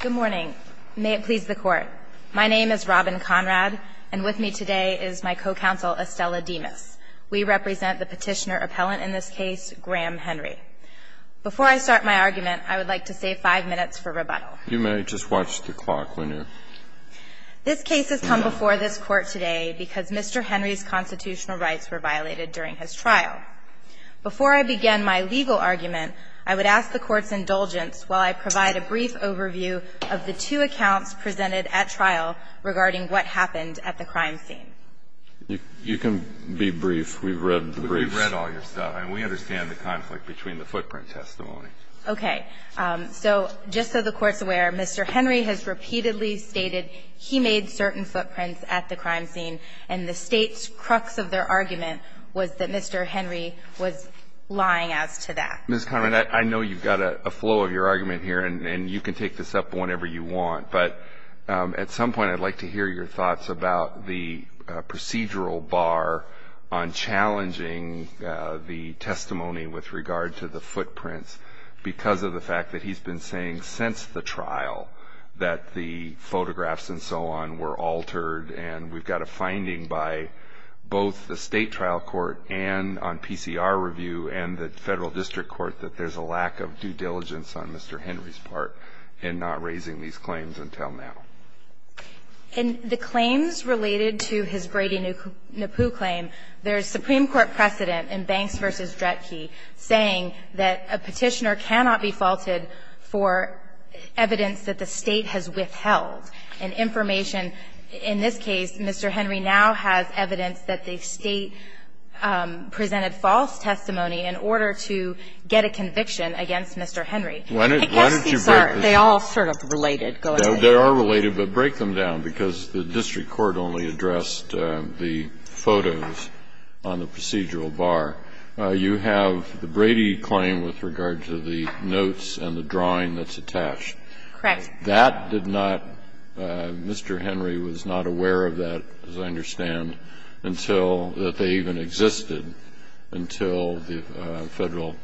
Good morning. May it please the court. My name is Robin Conrad, and with me today is my co-counsel Estella Demas. We represent the petitioner-appellant in this case, Graham Henry. Before I start my argument, I would like to save five minutes for rebuttal. You may just watch the clock when you're... This case has come before this court today because Mr. Henry's constitutional rights were violated during his trial. Before I begin my legal argument, I would ask the Court's indulgence while I provide a brief overview of the two accounts presented at trial regarding what happened at the crime scene. You can be brief. We've read the briefs. We've read all your stuff, and we understand the conflict between the footprint testimony. Okay. So just so the Court's aware, Mr. Henry has repeatedly stated he made certain footprints at the crime scene, and the State's crux of their argument was that Mr. Henry was lying as to that. Ms. Conrad, I know you've got a flow of your argument here, and you can take this up whenever you want, but at some point I'd like to hear your thoughts about the procedural bar on challenging the testimony with regard to the footprints because of the fact that he's been saying since the trial that the photographs and so on were altered, and we've got a finding by both the State trial court and on PCR review and the Federal District Court that there's a lack of due diligence on Mr. Henry's part in not raising these claims until now. In the claims related to his Brady-Nippoo claim, there is Supreme Court precedent in Banks v. Dretke saying that a Petitioner cannot be faulted for evidence that the State has withheld. And information in this case, Mr. Henry now has evidence that the State presented false testimony in order to get a conviction against Mr. Henry. Kennedy, why don't you break this up? They all sort of related. Go ahead. They are related, but break them down, because the district court only addressed the photos on the procedural bar. You have the Brady claim with regard to the notes and the drawing that's attached. Correct. That did not, Mr. Henry was not aware of that, as I understand, until, that they even existed until the Federal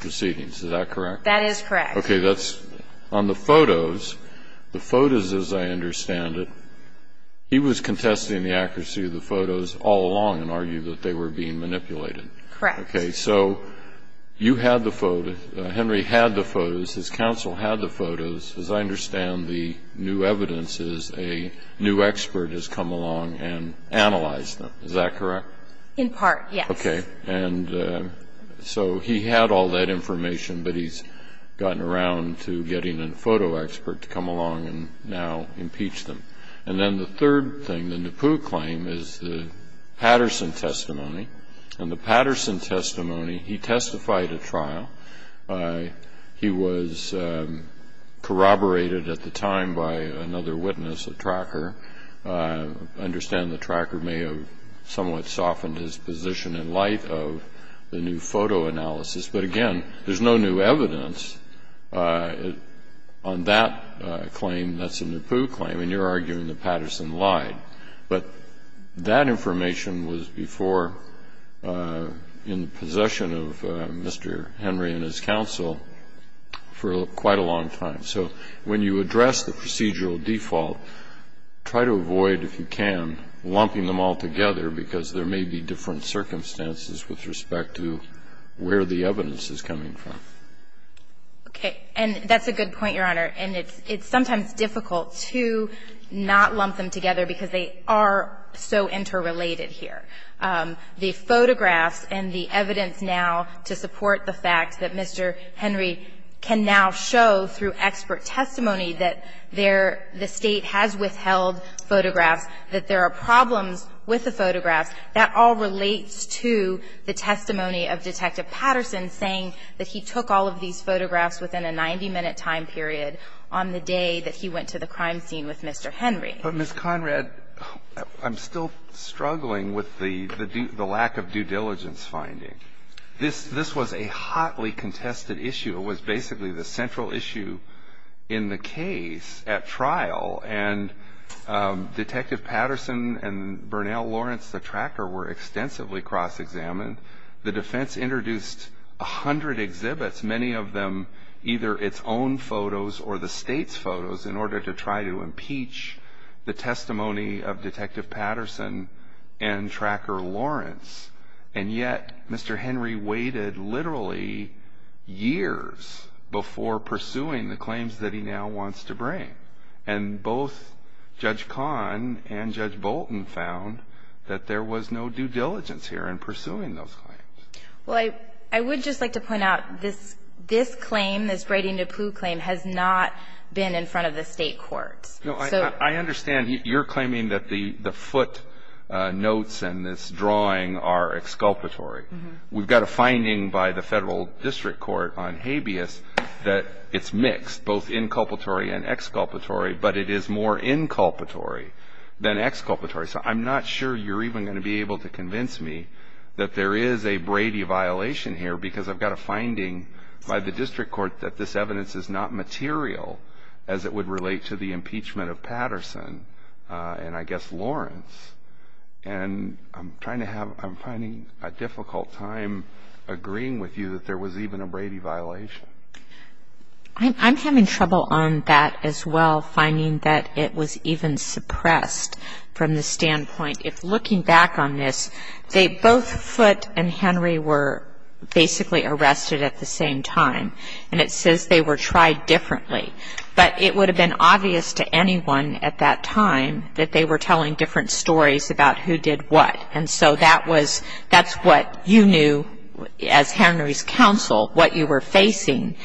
proceedings. Is that correct? That is correct. Okay. That's on the photos. The photos, as I understand it, he was contesting the accuracy of the photos all along and argued that they were being manipulated. Correct. So you had the photo. Henry had the photos. His counsel had the photos. As I understand, the new evidence is a new expert has come along and analyzed them. Is that correct? In part, yes. Okay. And so he had all that information, but he's gotten around to getting a photo expert to come along and now impeach them. And then the third thing, the Napoo claim, is the Patterson testimony. And the Patterson testimony, he testified at trial. He was corroborated at the time by another witness, a tracker. I understand the tracker may have somewhat softened his position in light of the new photo analysis. But, again, there's no new evidence on that claim that's a Napoo claim, and you're arguing that Patterson lied. But that information was before in the possession of Mr. Henry and his counsel for quite a long time. So when you address the procedural default, try to avoid, if you can, lumping them all together, because there may be different circumstances with respect to where the evidence is coming from. Okay. And that's a good point, Your Honor. And it's sometimes difficult to not lump them together because they are so interrelated here. The photographs and the evidence now to support the fact that Mr. Henry can now show through expert testimony that there the State has withheld photographs, that there are problems with the photographs, that all relates to the testimony of Detective Patterson on the day that he went to the crime scene with Mr. Henry. But, Ms. Conrad, I'm still struggling with the lack of due diligence finding. This was a hotly contested issue. It was basically the central issue in the case at trial, and Detective Patterson and Bernal Lawrence, the tracker, were extensively cross-examined. The defense introduced a hundred exhibits, many of them either its own photos or the State's photos, in order to try to impeach the testimony of Detective Patterson and Tracker Lawrence. And yet, Mr. Henry waited literally years before pursuing the claims that he now wants to bring. And both Judge Kahn and Judge Bolton found that there was no due diligence here in pursuing those claims. Well, I would just like to point out this claim, this Brady-Napoo claim, has not been in front of the State courts. No, I understand. You're claiming that the footnotes and this drawing are exculpatory. We've got a finding by the Federal District Court on habeas that it's mixed, both inculpatory and exculpatory, but it is more inculpatory than exculpatory. So I'm not sure you're even going to be able to convince me that there is a Brady violation here, because I've got a finding by the District Court that this evidence is not material as it would relate to the impeachment of Patterson and, I guess, Lawrence. And I'm finding a difficult time agreeing with you that there was even a Brady violation. I'm having trouble on that as well, finding that it was even suppressed from the standpoint, if looking back on this, they both foot and Henry were basically arrested at the same time. And it says they were tried differently. But it would have been obvious to anyone at that time that they were telling different stories about who did what. And so that was, that's what you knew as Henry's counsel, what you were facing.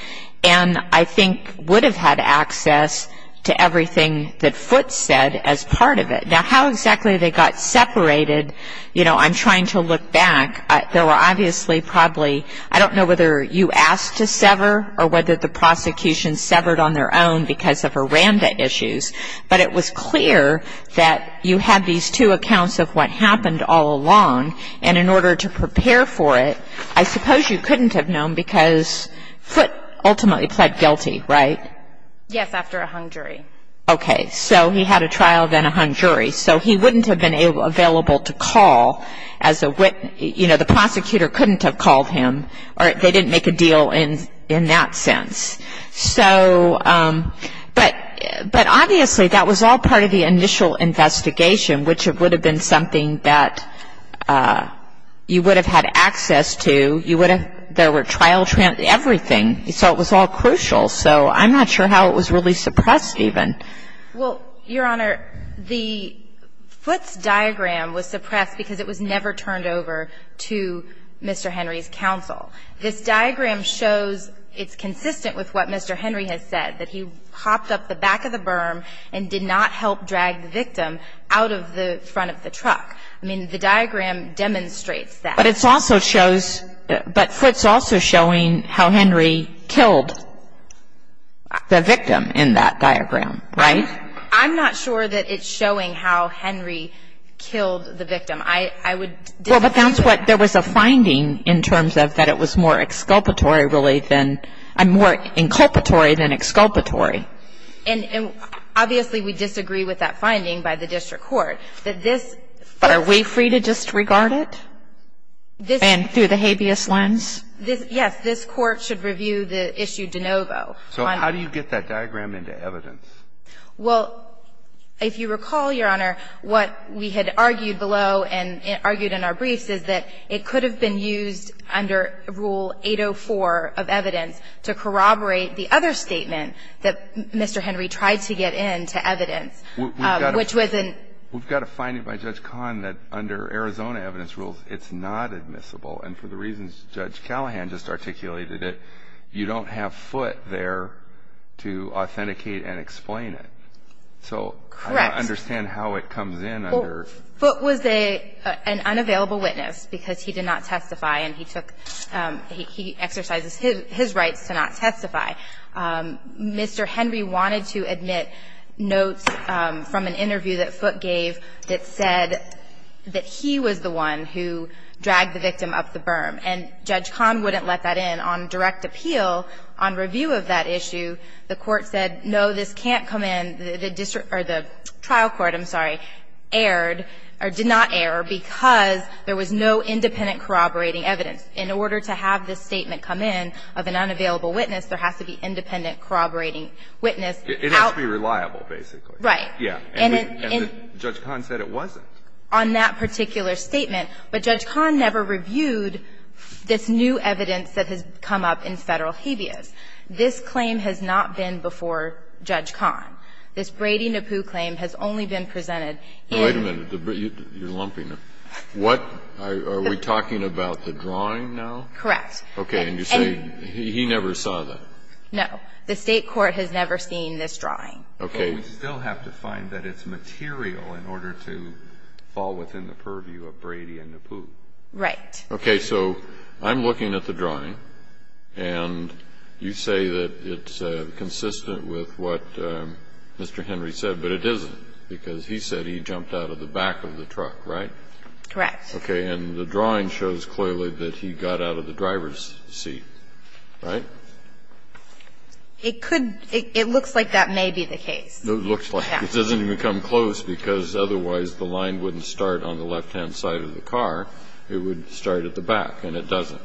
And I think would have had access to everything that Foote said as part of it. Now, how exactly they got separated, you know, I'm trying to look back. There were obviously probably, I don't know whether you asked to sever or whether the prosecution severed on their own because of aranda issues. But it was clear that you had these two accounts of what happened all along. And in order to prepare for it, I suppose you couldn't have known because Foote ultimately pled guilty, right? Yes, after a hung jury. Okay. So he had a trial, then a hung jury. So he wouldn't have been available to call as a witness. You know, the prosecutor couldn't have called him. They didn't make a deal in that sense. So, but obviously that was all part of the initial investigation, which would have been something that you would have had access to. You would have, there were trial, everything. So it was all crucial. So I'm not sure how it was really suppressed even. Well, Your Honor, the Foote's diagram was suppressed because it was never turned over to Mr. Henry's counsel. This diagram shows, it's consistent with what Mr. Henry has said, that he hopped up the back of the berm and did not help drag the victim out of the front of the truck. I mean, the diagram demonstrates that. But it also shows, but Foote's also showing how Henry killed the victim in that diagram, right? So, but I don't think it's, I don't think it's the same thing. I mean, it's not the same thing. I would disagree. Well, but that's what, there was a finding in terms of that it was more exculpatory really than, more inculpatory than exculpatory. And obviously we disagree with that finding by the district court, that this of course But are we free to disregard it and through the habeas lens? Yes, this Court should review the issue de novo. So how do you get that diagram into evidence? Well, if you recall, Your Honor, what we had argued below and argued in our briefs is that it could have been used under Rule 804 of evidence to corroborate the other statement that Mr. Henry tried to get into evidence, which was in We've got a finding by Judge Kahn that under Arizona evidence rules it's not admissible and for the reasons Judge Callahan just articulated it, you don't have Foote there to authenticate and explain it. So I don't understand how it comes in under Foote was an unavailable witness because he did not testify and he took, he exercises his rights to not testify. Mr. Henry wanted to admit notes from an interview that Foote gave that said that he was the one who dragged the victim up the berm. And Judge Kahn wouldn't let that in. On direct appeal, on review of that issue, the Court said, no, this can't come in. The district or the trial court, I'm sorry, erred or did not err because there was no independent corroborating evidence. In order to have this statement come in of an unavailable witness, there has to be independent corroborating witness. It has to be reliable, basically. Right. Yeah. And Judge Kahn said it wasn't. On that particular statement, but Judge Kahn never reviewed this new evidence that has come up in Federal habeas. This claim has not been before Judge Kahn. This Brady-Napoo claim has only been presented in the State court. Wait a minute. You're lumping them. What? Are we talking about the drawing now? Correct. Okay. And you say he never saw that. No. The State court has never seen this drawing. Okay. But we still have to find that it's material in order to fall within the purview of Brady-Napoo. Right. Okay. So I'm looking at the drawing, and you say that it's consistent with what Mr. Henry said, but it isn't because he said he jumped out of the back of the truck, right? Correct. Okay. And the drawing shows clearly that he got out of the driver's seat, right? It could be. It looks like that may be the case. It looks like it. It doesn't even come close because otherwise the line wouldn't start on the left-hand side of the car. It would start at the back, and it doesn't.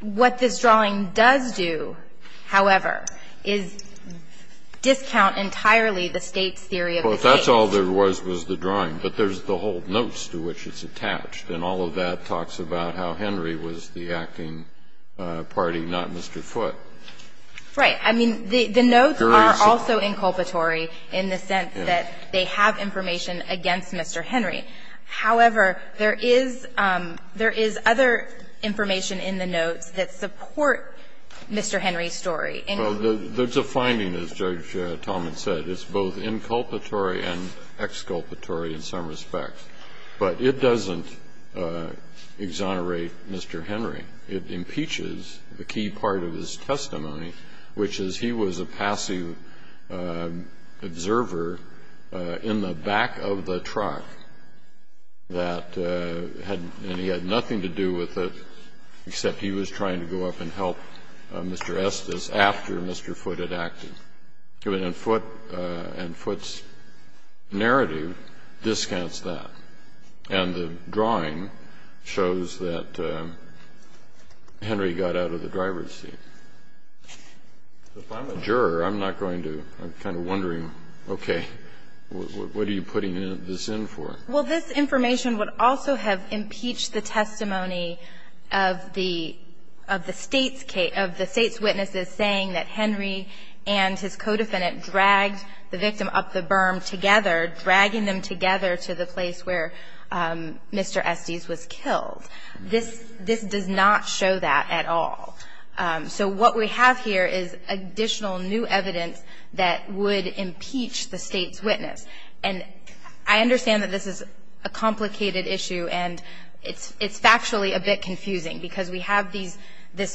What this drawing does do, however, is discount entirely the State's theory of the case. Well, if that's all there was, was the drawing. But there's the whole notes to which it's attached, and all of that talks about how Henry was the acting party, not Mr. Foote. Right. I mean, the notes are also inculpatory in the sense that they have information against Mr. Henry. However, there is other information in the notes that support Mr. Henry's story. Well, there's a finding, as Judge Tallman said. It's both inculpatory and exculpatory in some respects. But it doesn't exonerate Mr. Henry. It impeaches a key part of his testimony, which is he was a passive observer in the back of the truck, and he had nothing to do with it except he was trying to go up and help Mr. Estes after Mr. Foote had acted. And Foote's narrative discounts that. And the drawing shows that Henry got out of the driver's seat. If I'm a juror, I'm not going to be kind of wondering, okay, what are you putting this in for? Well, this information would also have impeached the testimony of the State's witnesses saying that Henry and his co-defendant dragged the victim up the berm together, dragging them together to the place where Mr. Estes was killed. This does not show that at all. So what we have here is additional new evidence that would impeach the State's witness. And I understand that this is a complicated issue, and it's factually a bit confusing because we have these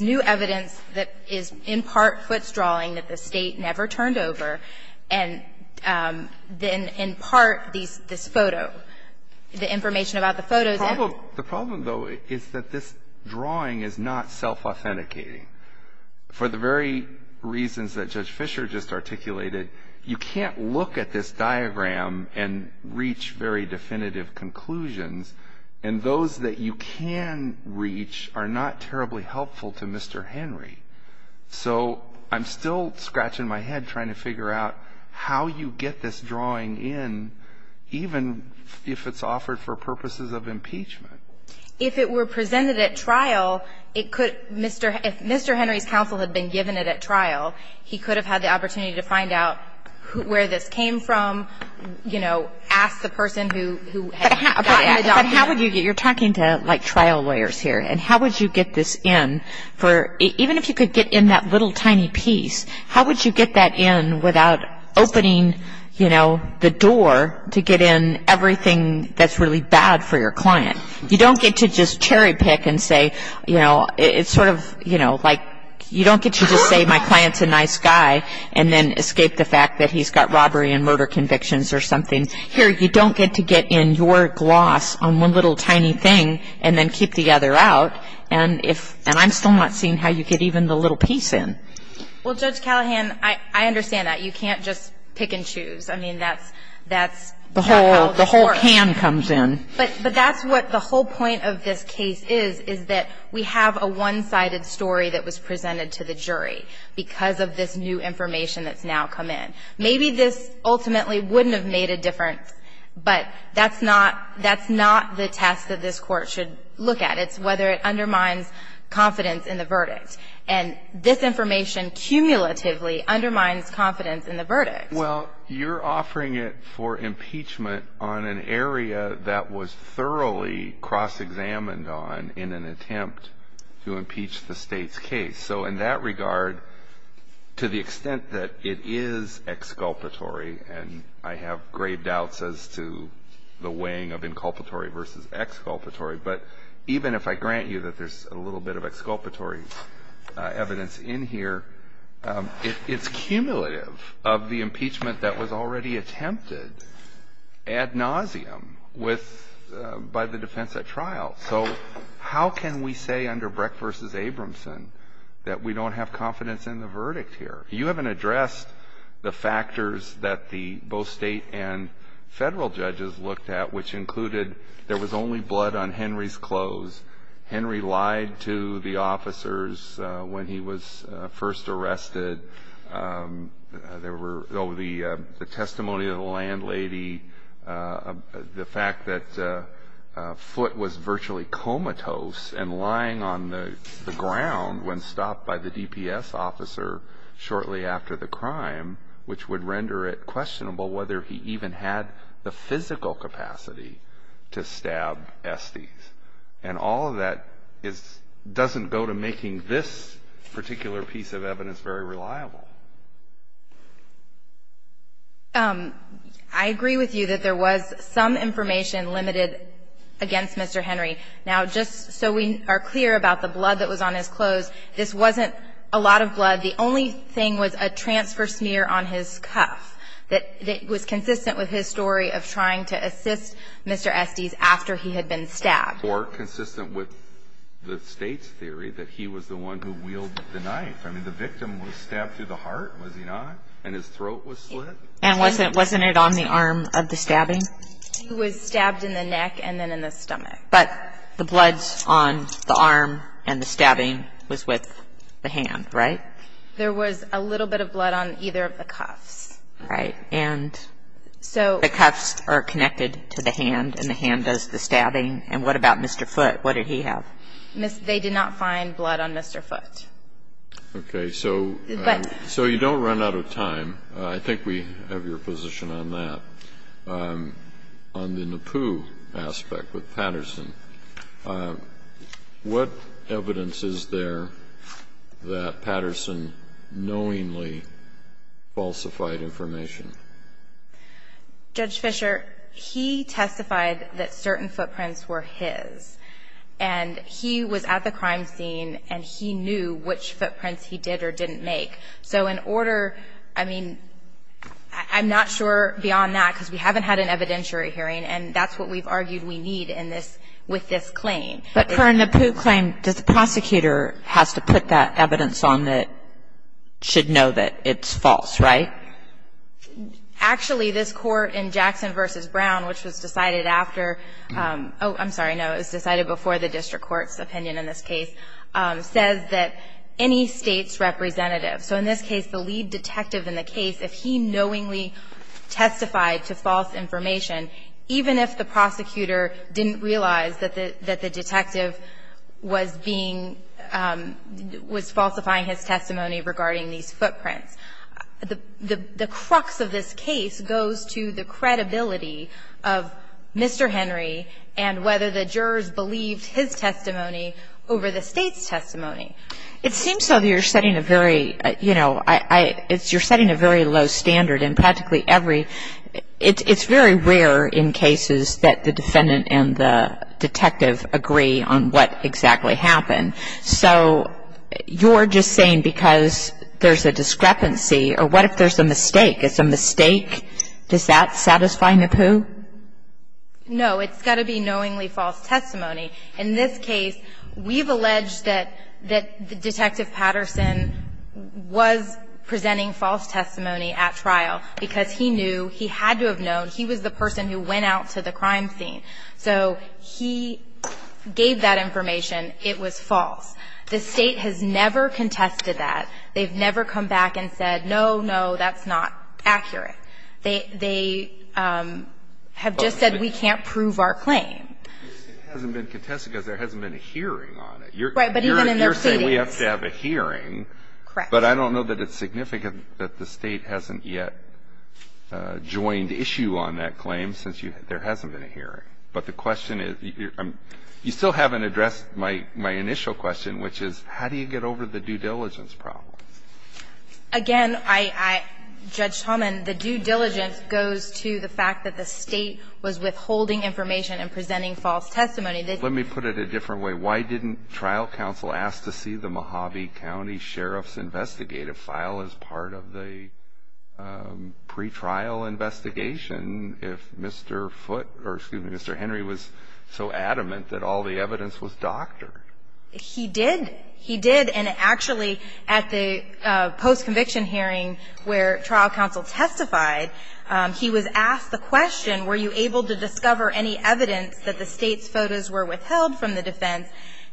new evidence that is in part Foote's drawing that the State never turned over, and then in part this photo, the information about the photos. The problem, though, is that this drawing is not self-authenticating. For the very reasons that Judge Fischer just articulated, you can't look at this are not terribly helpful to Mr. Henry. So I'm still scratching my head trying to figure out how you get this drawing in, even if it's offered for purposes of impeachment. If it were presented at trial, it could Mr. Henry's counsel had been given it at trial, he could have had the opportunity to find out where this came from, you know, ask the person who had gotten the document. But how would you get it? You're talking to, like, trial lawyers here. And how would you get this in? Even if you could get in that little tiny piece, how would you get that in without opening, you know, the door to get in everything that's really bad for your client? You don't get to just cherry pick and say, you know, it's sort of, you know, like, you don't get to just say my client's a nice guy and then escape the fact that he's got robbery and murder convictions or something. Here, you don't get to get in your gloss on one little tiny thing and then keep the other out. And I'm still not seeing how you get even the little piece in. Well, Judge Callahan, I understand that. You can't just pick and choose. I mean, that's how the court – The whole can comes in. But that's what the whole point of this case is, is that we have a one-sided story that was presented to the jury because of this new information that's now come in. Maybe this ultimately wouldn't have made a difference, but that's not the test that this court should look at. It's whether it undermines confidence in the verdict. And this information cumulatively undermines confidence in the verdict. Well, you're offering it for impeachment on an area that was thoroughly cross-examined on in an attempt to impeach the State's case. So in that regard, to the extent that it is exculpatory – and I have grave doubts as to the weighing of inculpatory versus exculpatory – but even if I grant you that there's a little bit of exculpatory evidence in here, it's cumulative of the impeachment that was already attempted ad nauseum by the defense at trial. So how can we say under Brecht v. Abramson that we don't have confidence in the verdict here? You haven't addressed the factors that both State and Federal judges looked at, which included there was only blood on Henry's clothes. Henry lied to the officers when he was first arrested. There were – oh, the testimony of the landlady, the fact that Foote was virtually comatose and lying on the ground when stopped by the DPS officer shortly after the crime, which would render it questionable whether he even had the physical capacity to stab Estes. And all of that is – doesn't go to making this particular piece of evidence very reliable. I agree with you that there was some information limited against Mr. Henry. Now, just so we are clear about the blood that was on his clothes, this wasn't a lot of blood. The only thing was a transfer smear on his cuff that was consistent with his story of trying to assist Mr. Estes after he had been stabbed. Or consistent with the State's theory that he was the one who wielded the knife. I mean, the victim was stabbed through the heart, was he not? And his throat was slit? And wasn't it on the arm of the stabbing? He was stabbed in the neck and then in the stomach. But the blood's on the arm and the stabbing was with the hand, right? There was a little bit of blood on either of the cuffs. Right. And the cuffs are connected to the hand and the hand does the stabbing. And what about Mr. Foote? What did he have? They did not find blood on Mr. Foote. Okay. So you don't run out of time. I think we have your position on that. On the Nepew aspect with Patterson, what evidence is there that Patterson knowingly falsified information? Judge Fisher, he testified that certain footprints were his. And he was at the crime scene and he knew which footprints he did or didn't make. So in order, I mean, I'm not sure beyond that because we haven't had an evidentiary hearing and that's what we've argued we need with this claim. But for a Nepew claim, does the prosecutor have to put that evidence on that should know that it's false, right? Actually, this court in Jackson v. Brown, which was decided after ‑‑ oh, I'm sorry, no, it was decided before the district court's opinion in this case, says that any state's representative, so in this case the lead detective in the case, if he knowingly testified to false information, even if the prosecutor didn't realize that the detective was being ‑‑ was falsifying his testimony regarding these footprints, the crux of this case goes to the credibility of Mr. Henry and whether the jurors believed his testimony over the State's testimony. It seems so that you're setting a very, you know, you're setting a very low standard and practically every ‑‑ it's very rare in cases that the defendant and the detective agree on what exactly happened. So you're just saying because there's a discrepancy, or what if there's a mistake? Is a mistake, does that satisfy Nepew? No, it's got to be knowingly false testimony. In this case, we've alleged that Detective Patterson was presenting false testimony at trial because he knew, he had to have known, he was the person who went out to the crime scene. So he gave that information. It was false. The State has never contested that. They've never come back and said, no, no, that's not accurate. They have just said we can't prove our claim. It hasn't been contested because there hasn't been a hearing on it. Right, but even in their statings. You're saying we have to have a hearing. Correct. But I don't know that it's significant that the State hasn't yet joined issue on that claim since there hasn't been a hearing. But the question is ‑‑ you still haven't addressed my initial question, which is how do you get over the due diligence problem? Again, I ‑‑ Judge Talman, the due diligence goes to the fact that the State was withholding information and presenting false testimony. Let me put it a different way. Why didn't trial counsel ask to see the Mojave County Sheriff's investigative file as part of the pretrial investigation if Mr. Foote ‑‑ or, excuse me, Mr. Henry was so adamant that all the evidence was doctored? He did. He did. And, actually, at the post-conviction hearing where trial counsel testified, he was asked the question, were you able to discover any evidence that the State's photos were withheld from the defense?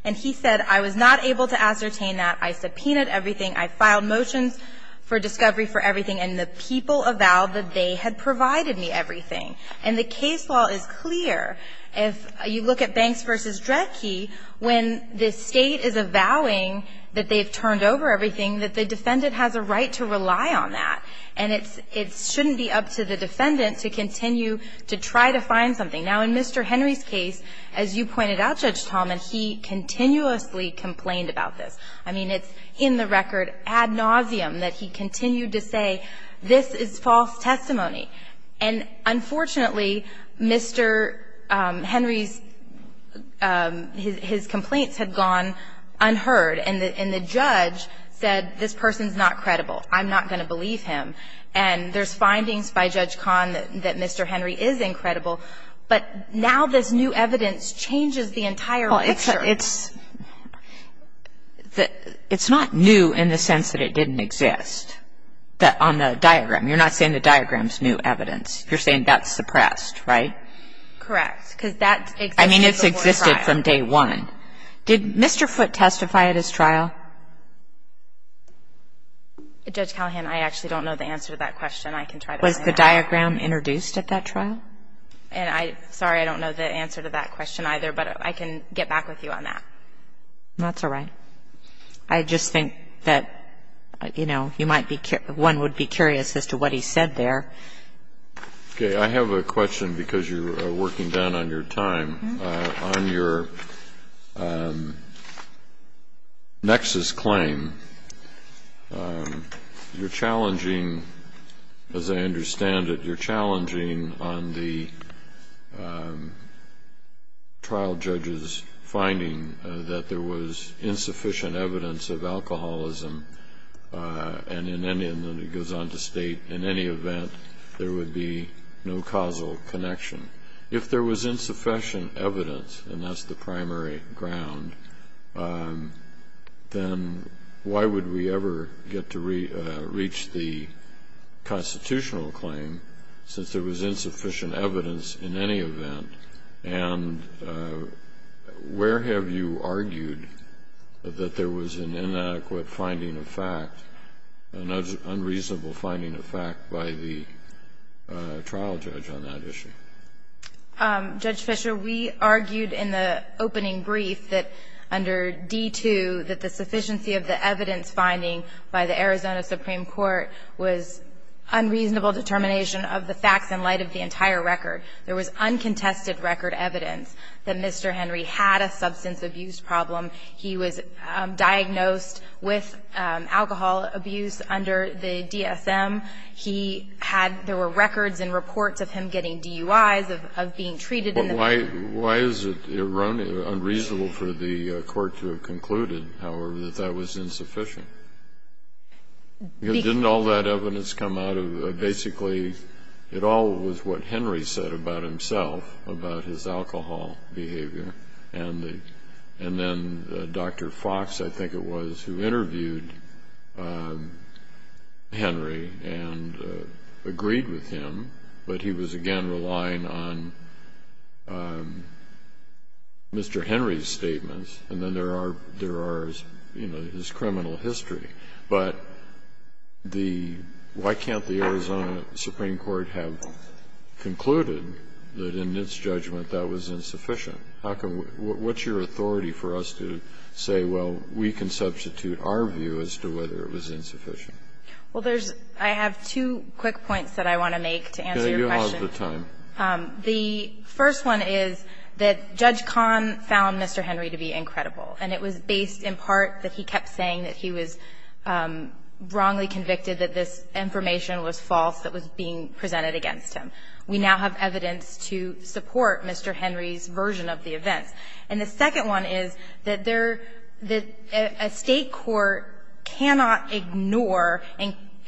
And he said, I was not able to ascertain that. I subpoenaed everything. I filed motions for discovery for everything. And the people avowed that they had provided me everything. And the case law is clear. If you look at Banks v. Dredke, when the State is avowing that they've turned over everything, that the defendant has a right to rely on that. And it's ‑‑ it shouldn't be up to the defendant to continue to try to find something. Now, in Mr. Henry's case, as you pointed out, Judge Tallman, he continuously complained about this. I mean, it's in the record ad nauseum that he continued to say, this is false testimony. And, unfortunately, Mr. Henry's ‑‑ his complaints had gone unheard. And the judge said, this person's not credible. I'm not going to believe him. And there's findings by Judge Kahn that Mr. Henry is incredible. But now this new evidence changes the entire picture. It's not new in the sense that it didn't exist on the diagram. You're not saying the diagram's new evidence. You're saying that's suppressed, right? Correct. Because that existed before the trial. I mean, it's existed from day one. Did Mr. Foote testify at his trial? Judge Callahan, I actually don't know the answer to that question. I can try to find out. Was the diagram introduced at that trial? Sorry, I don't know the answer to that question either. But I can get back with you on that. That's all right. I just think that, you know, one would be curious as to what he said there. Okay. I have a question because you're working down on your time. On your nexus claim, you're challenging, as I understand it, you're challenging on the trial judge's finding that there was insufficient evidence of alcoholism, and it goes on to state, in any event, there would be no causal connection. If there was insufficient evidence, and that's the primary ground, then why would we ever get to reach the constitutional claim, since there was insufficient evidence in any event? And where have you argued that there was an inadequate finding of fact, an unreasonable finding of fact by the trial judge on that issue? Judge Fischer, we argued in the opening brief that under D-2, that the sufficiency of the evidence finding by the Arizona Supreme Court was unreasonable determination of the facts in light of the entire record. There was uncontested record evidence that Mr. Henry had a substance abuse problem. He was diagnosed with alcohol abuse under the DSM. He had, there were records and reports of him getting DUIs, of being treated in the Why is it unreasonable for the court to have concluded, however, that that was insufficient? Because didn't all that evidence come out of basically, it all was what Henry said about himself, about his alcohol behavior, and then Dr. Fox, I think it was, who interviewed Henry and agreed with him, but he was, again, relying on Mr. Henry's statements, and then there are his criminal history. But why can't the Arizona Supreme Court have concluded that in its judgment that was insufficient? How can we, what's your authority for us to say, well, we can substitute our view as to whether it was insufficient? Well, there's, I have two quick points that I want to make to answer your question. Can I do them all at the time? The first one is that Judge Kahn found Mr. Henry to be incredible, and it was based in part that he kept saying that he was wrongly convicted, that this information was false, that it was being presented against him. We now have evidence to support Mr. Henry's version of the events. And the second one is that there, that a State court cannot ignore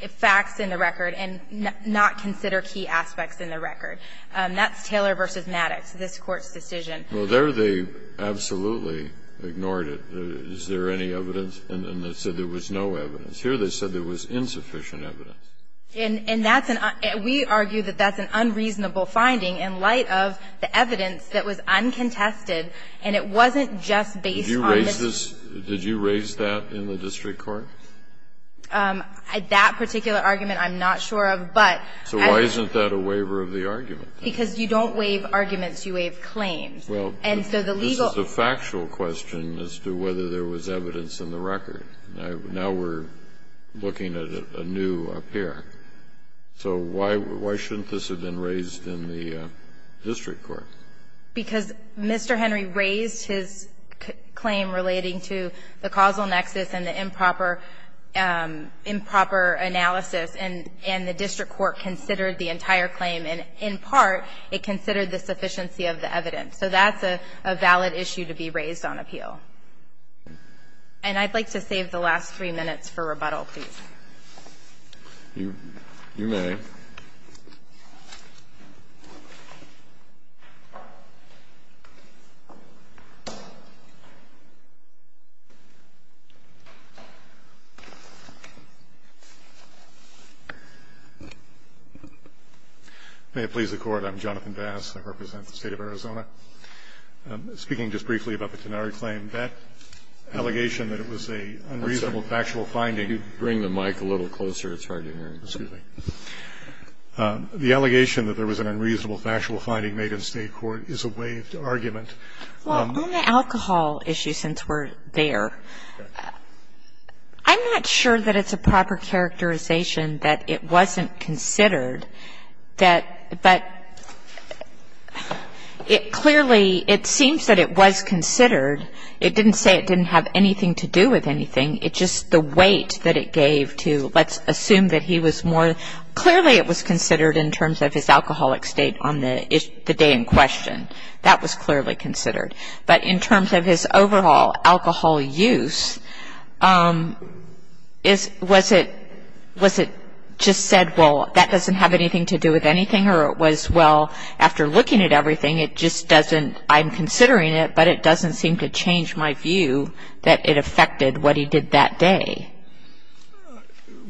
facts in the record and not consider key aspects in the record. That's Taylor v. Maddox, this Court's decision. Well, there they absolutely ignored it. Is there any evidence? And they said there was no evidence. Here they said there was insufficient evidence. And that's an, we argue that that's an unreasonable finding in light of the evidence that was uncontested, and it wasn't just based on this. Did you raise this, did you raise that in the district court? That particular argument I'm not sure of, but I. So why isn't that a waiver of the argument? Because you don't waive arguments, you waive claims. Well. And so the legal. This is a factual question as to whether there was evidence in the record. Now we're looking at a new appear. So why shouldn't this have been raised in the district court? Because Mr. Henry raised his claim relating to the causal nexus and the improper analysis, and the district court considered the entire claim, and in part, it considered the sufficiency of the evidence. So that's a valid issue to be raised on appeal. And I'd like to save the last three minutes for rebuttal, please. You may. May it please the Court. I'm Jonathan Bass. I represent the State of Arizona. I'm speaking just briefly about the Tenari claim. That allegation that it was an unreasonable factual finding. Could you bring the mic a little closer? It's hard to hear. Excuse me. The allegation that there was an unreasonable factual finding made in State court is a waived argument. Well, on the alcohol issue, since we're there, I'm not sure that it's a proper characterization that it wasn't considered. But it clearly, it seems that it was considered. It didn't say it didn't have anything to do with anything. It's just the weight that it gave to let's assume that he was more – clearly it was considered in terms of his alcoholic state on the day in question. That was clearly considered. But in terms of his overall alcohol use, was it just said, well, that doesn't have anything to do with anything? Or it was, well, after looking at everything, it just doesn't – I'm considering it, but it doesn't seem to change my view that it affected what he did that day.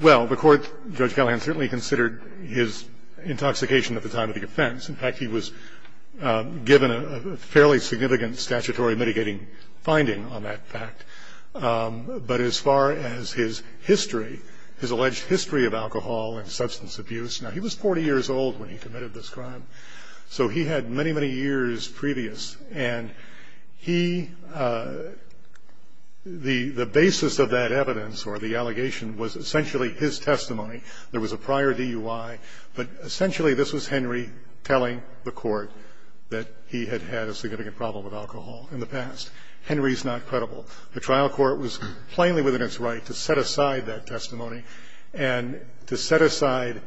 Well, the Court, Judge Gallagher certainly considered his intoxication at the time of the offense. In fact, he was given a fairly significant statutory mitigating finding on that fact. But as far as his history, his alleged history of alcohol and substance abuse, now he was 40 years old when he committed this crime. So he had many, many years previous. And he – the basis of that evidence or the allegation was essentially his testimony. There was a prior DUI. But essentially, this was Henry telling the Court that he had had a significant problem with alcohol in the past. Henry's not credible. The trial court was plainly within its right to set aside that testimony and to set aside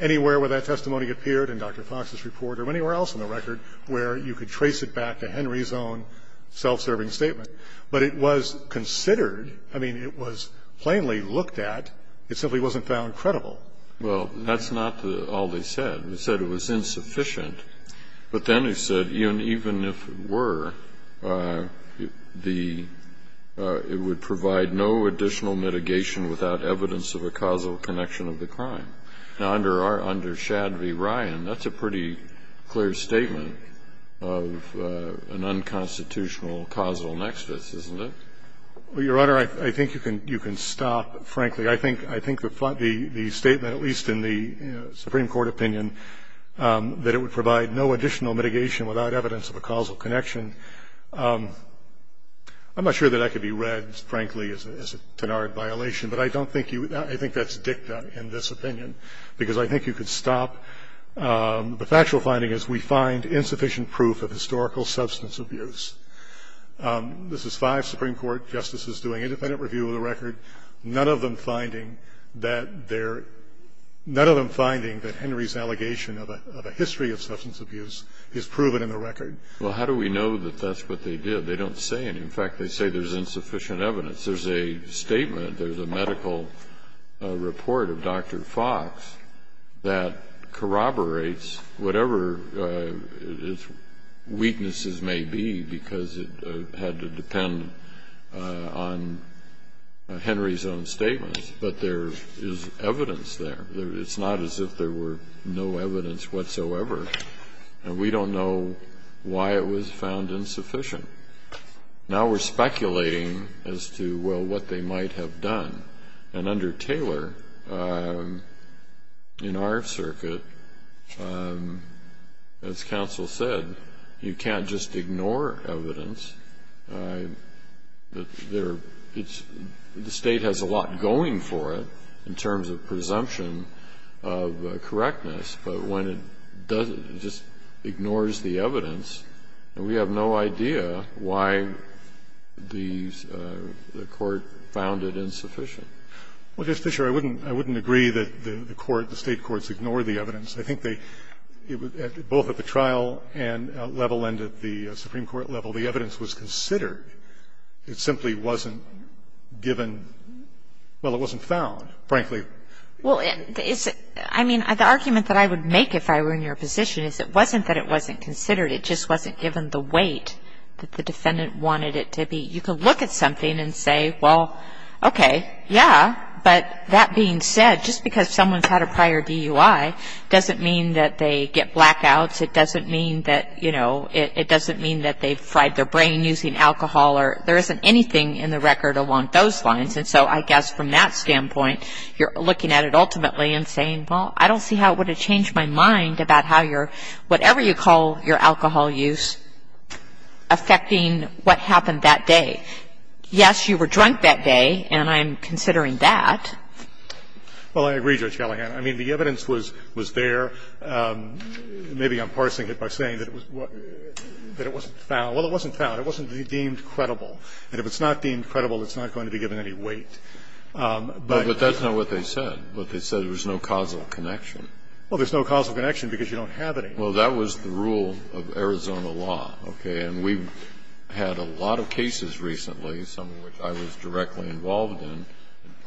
anywhere where that testimony appeared in Dr. Fox's report or anywhere else in the record where you could trace it back to Henry's own self-serving statement. But it was considered – I mean, it was plainly looked at. It simply wasn't found credible. Well, that's not all they said. They said it was insufficient. But then they said even if it were, the – it would provide no additional mitigation without evidence of a causal connection of the crime. Now, under Shad v. Ryan, that's a pretty clear statement of an unconstitutional causal nexus, isn't it? Well, Your Honor, I think you can stop, frankly. I think the statement, at least in the Supreme Court opinion, that it would provide no additional mitigation without evidence of a causal connection, I'm not sure that that could be read, frankly, as a tenured violation. But I don't think you – I think that's dicta in this opinion because I think you could stop. The factual finding is we find insufficient proof of historical substance abuse. This is five Supreme Court justices doing independent review of the record. None of them finding that they're – none of them finding that Henry's allegation of a history of substance abuse is proven in the record. Well, how do we know that that's what they did? They don't say anything. In fact, they say there's insufficient evidence. There's a statement, there's a medical report of Dr. Fox that corroborates whatever its weaknesses may be because it had to depend on Henry's own statements. But there is evidence there. It's not as if there were no evidence whatsoever. We don't know why it was found insufficient. Now we're speculating as to, well, what they might have done. And under Taylor, in our circuit, as counsel said, you can't just ignore evidence. There – it's – the State has a lot going for it in terms of presumption of correctness. But when it doesn't, it just ignores the evidence. And we have no idea why the Court found it insufficient. Well, Justice Fisher, I wouldn't – I wouldn't agree that the Court, the State courts, ignored the evidence. I think they – both at the trial level and at the Supreme Court level, the evidence was considered. It simply wasn't given – well, it wasn't found, frankly. Well, it's – I mean, the argument that I would make if I were in your position is it wasn't that it wasn't considered. It just wasn't given the weight that the defendant wanted it to be. You could look at something and say, well, okay, yeah, but that being said, just because someone's had a prior DUI doesn't mean that they get blackouts. It doesn't mean that, you know, it doesn't mean that they fried their brain using alcohol or – there isn't anything in the record along those lines. And so I guess from that standpoint, you're looking at it ultimately and saying, well, I don't see how it would have changed my mind about how your – whatever you call your alcohol use affecting what happened that day. Yes, you were drunk that day, and I'm considering that. Well, I agree, Judge Gallagher. I mean, the evidence was – was there. Maybe I'm parsing it by saying that it was – that it wasn't found. Well, it wasn't found. It wasn't deemed credible. And if it's not deemed credible, it's not going to be given any weight. But that's not what they said. What they said was there was no causal connection. Well, there's no causal connection because you don't have any. Well, that was the rule of Arizona law, okay? And we've had a lot of cases recently, some of which I was directly involved in,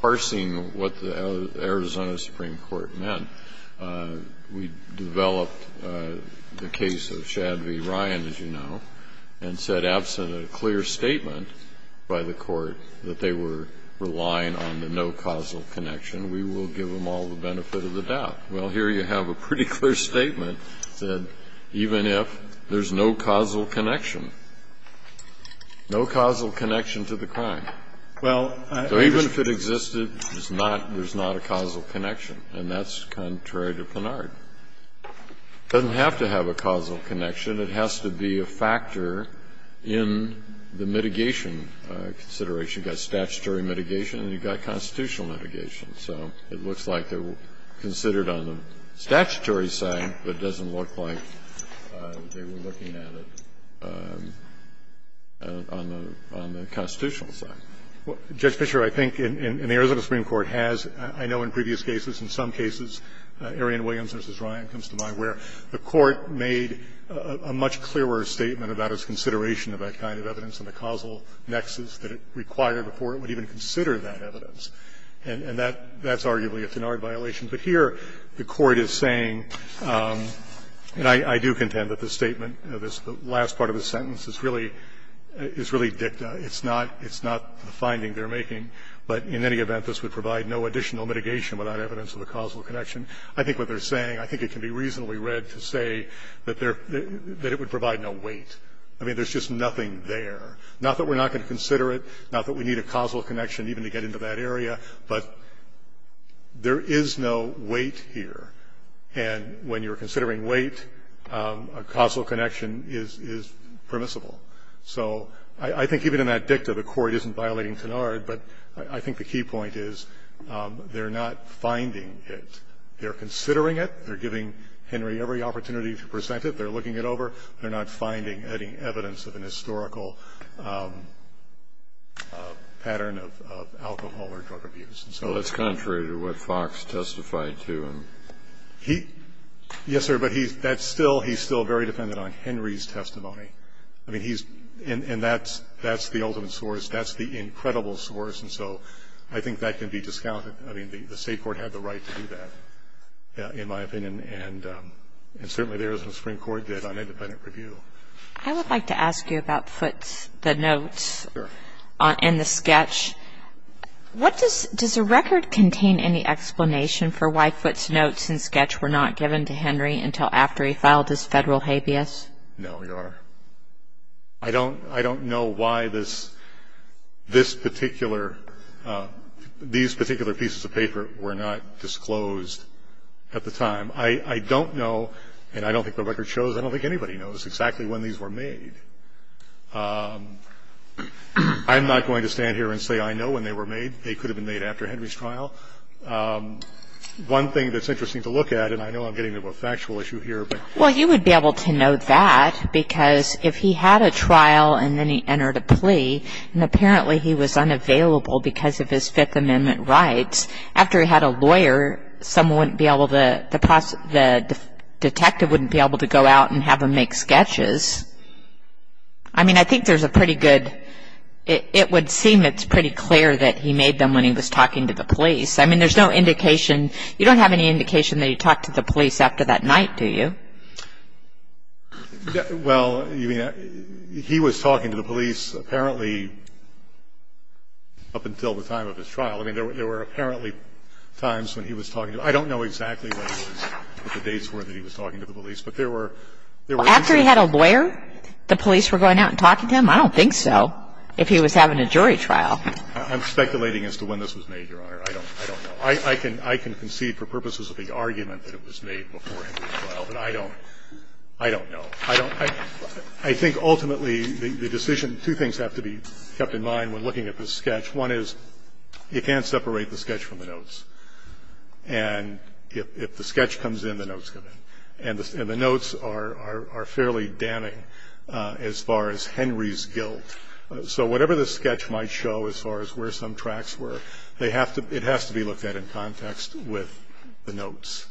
parsing what the Arizona Supreme Court meant. We developed the case of Shad v. Ryan, as you know, and said, absent a clear statement, by the Court, that they were relying on the no causal connection, we will give them all the benefit of the doubt. Well, here you have a pretty clear statement that even if there's no causal connection, no causal connection to the crime. Well, I just – So even if it existed, there's not a causal connection. And that's contrary to Plenard. It doesn't have to have a causal connection. It has to be a factor in the mitigation consideration. You've got statutory mitigation and you've got constitutional mitigation. So it looks like they were considered on the statutory side, but it doesn't look like they were looking at it on the constitutional side. Judge Fischer, I think in the Arizona Supreme Court has, I know in previous cases, in some cases, Arian Williams v. Ryan comes to mind, where the Court made a much clearer statement about its consideration of that kind of evidence and the causal nexus that it required before it would even consider that evidence. And that's arguably a Plenard violation. But here the Court is saying, and I do contend that the statement, the last part of the sentence, is really dicta. It's not the finding they're making, but in any event, this would provide no additional mitigation without evidence of a causal connection. I think what they're saying, I think it can be reasonably read to say that it would provide no weight. I mean, there's just nothing there. Not that we're not going to consider it, not that we need a causal connection even to get into that area, but there is no weight here. And when you're considering weight, a causal connection is permissible. So I think even in that dicta, the Court isn't violating Plenard, but I think the key point is they're not finding it. They're considering it. They're giving Henry every opportunity to present it. They're looking it over. They're not finding any evidence of an historical pattern of alcohol or drug abuse. And so that's contrary to what Fox testified to. He – yes, sir, but that's still – he's still very dependent on Henry's testimony. I mean, he's – and that's the ultimate source. That's the incredible source. And so I think that can be discounted. I mean, the State Court had the right to do that, in my opinion, and certainly there is what the Supreme Court did on independent review. I would like to ask you about Foote's – the notes and the sketch. What does – does the record contain any explanation for why Foote's notes and sketch were not given to Henry until after he filed his Federal habeas? No, Your Honor. I don't – I don't know why this – this particular – these particular pieces of paper were not disclosed at the time. I don't know, and I don't think the record shows, I don't think anybody knows exactly when these were made. I'm not going to stand here and say I know when they were made. They could have been made after Henry's trial. One thing that's interesting to look at, and I know I'm getting into a factual issue here, but – Well, you would be able to know that because if he had a trial and then he entered a plea, and apparently he was unavailable because of his Fifth Amendment rights, after he had a lawyer, someone wouldn't be able to – the detective wouldn't be able to go out and have him make sketches. I mean, I think there's a pretty good – it would seem it's pretty clear that he made them when he was talking to the police. I mean, there's no indication – you don't have any indication that he talked to the police after that night, do you? Well, he was talking to the police apparently up until the time of his trial. I mean, there were apparently times when he was talking to – I don't know exactly what the dates were that he was talking to the police, but there were – there were instances – Well, after he had a lawyer, the police were going out and talking to him? I don't think so. If he was having a jury trial. I'm speculating as to when this was made, Your Honor. I don't know. I can concede for purposes of the argument that it was made before Henry's trial, but I don't – I don't know. I don't – I think ultimately the decision – two things have to be kept in mind when looking at this sketch. One is, you can't separate the sketch from the notes. And if the sketch comes in, the notes come in. And the notes are fairly damning as far as Henry's guilt. So whatever this sketch might show as far as where some tracks were, they have to – it has to be looked at in context with the notes,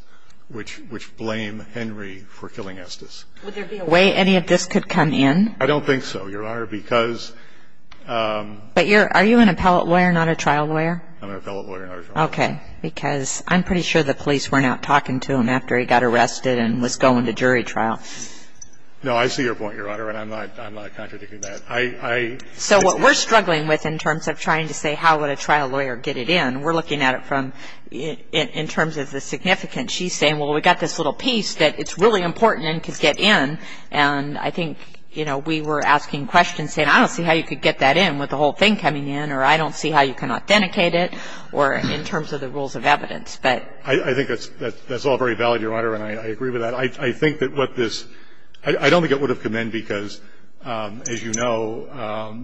which – which blame Henry for killing Estes. Would there be a way any of this could come in? I don't think so, Your Honor, because – But you're – are you an appellate lawyer, not a trial lawyer? I'm an appellate lawyer, not a trial lawyer. Okay. Because I'm pretty sure the police went out talking to him after he got arrested and was going to jury trial. No, I see your point, Your Honor, and I'm not – I'm not contradicting that. I – I – So what we're struggling with in terms of trying to say how would a trial lawyer get it in, we're looking at it from – in terms of the significance. She's saying, well, we've got this little piece that it's really important and can get in. And I think, you know, we were asking questions, saying, I don't see how you could get that in with the whole thing coming in, or I don't see how you can authenticate it, or in terms of the rules of evidence. But – I think that's – that's all very valid, Your Honor, and I agree with that. I think that what this – I don't think it would have come in because, as you know,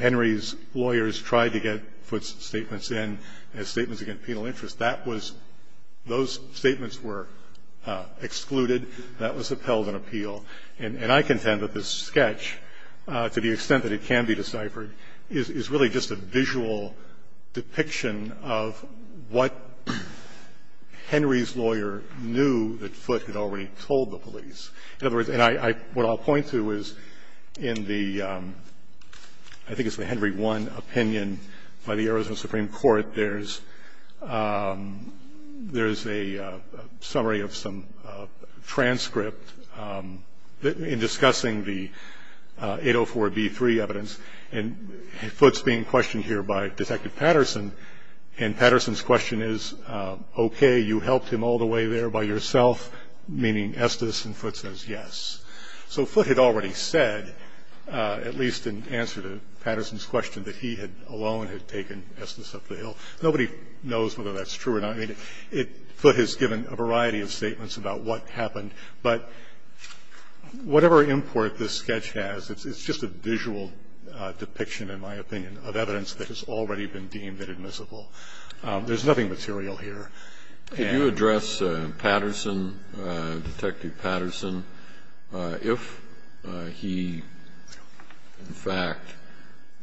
Henry's lawyers tried to get Foote's statements in as statements against penal interest. That was – those statements were excluded. That was upheld in appeal. And I contend that this sketch, to the extent that it can be deciphered, is really just a visual depiction of what Henry's lawyer knew that Foote had already told the police. In other words – and I – what I'll point to is in the – I think it's the Henry 1 opinion by the Arizona Supreme Court. There's a summary of some transcript in discussing the 804B3 evidence. And Foote's being questioned here by Detective Patterson, and Patterson's question is, okay, you helped him all the way there by yourself, meaning Estes and Foote says yes. So Foote had already said, at least in answer to Patterson's question, that he had alone had taken Estes up the hill. Nobody knows whether that's true or not. I mean, Foote has given a variety of statements about what happened. But whatever import this sketch has, it's just a visual depiction, in my opinion, of evidence that has already been deemed inadmissible. There's nothing material here. Could you address Patterson, Detective Patterson? If he, in fact,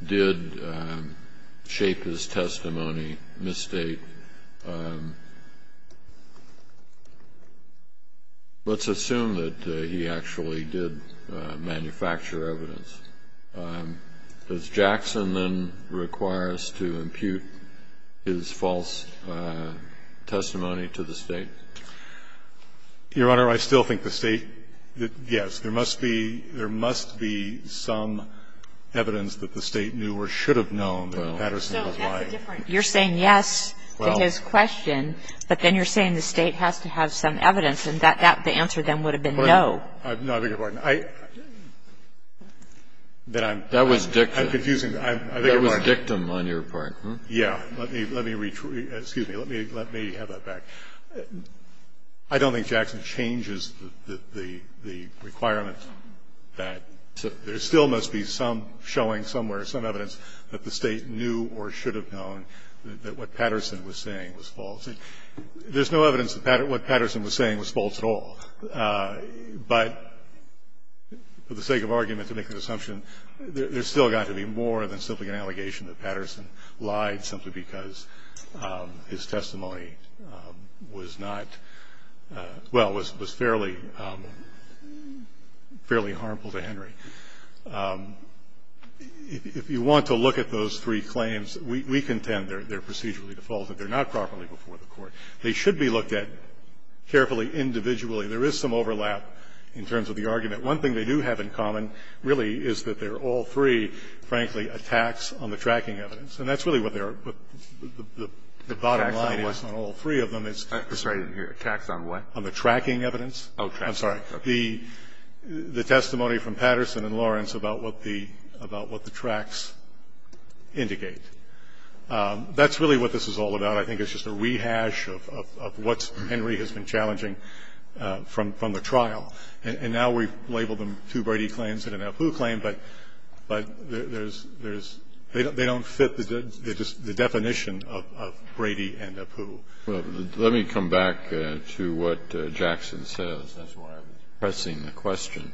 did shape his testimony, misstate, let's assume that he actually did manufacture evidence. Does Jackson then require us to impute his false testimony to the State? Your Honor, I still think the State, yes. There must be some evidence that the State knew or should have known that Patterson was lying. You're saying yes to his question, but then you're saying the State has to have some evidence, and the answer then would have been no. No, I beg your pardon. I'm confusing. That was dictum on your part. Yes. Let me have that back. I don't think Jackson changes the requirement that there still must be some showing somewhere, some evidence that the State knew or should have known that what Patterson was saying was false. There's no evidence that what Patterson was saying was false at all, but for the sake of argument to make an assumption, there's still got to be more than simply an allegation that Patterson lied simply because his testimony was not, well, was fairly, fairly harmful to Henry. If you want to look at those three claims, we contend they're procedurally defaulted. They're not properly before the Court. They should be looked at carefully individually. There is some overlap in terms of the argument. One thing they do have in common, really, is that they're all three, frankly, attacks on the tracking evidence. And that's really what they are. The bottom line is not all three of them. It's just the tracking evidence. The testimony from Patterson and Lawrence about what the tracks indicate. That's really what this is all about. I think it's just a rehash of what Henry has been challenging from the trial. And now we've labeled them two Brady claims and an Apu claim, but there's, they don't fit the definition of Brady and Apu. Kennedy. Let me come back to what Jackson says. That's why I'm pressing the question.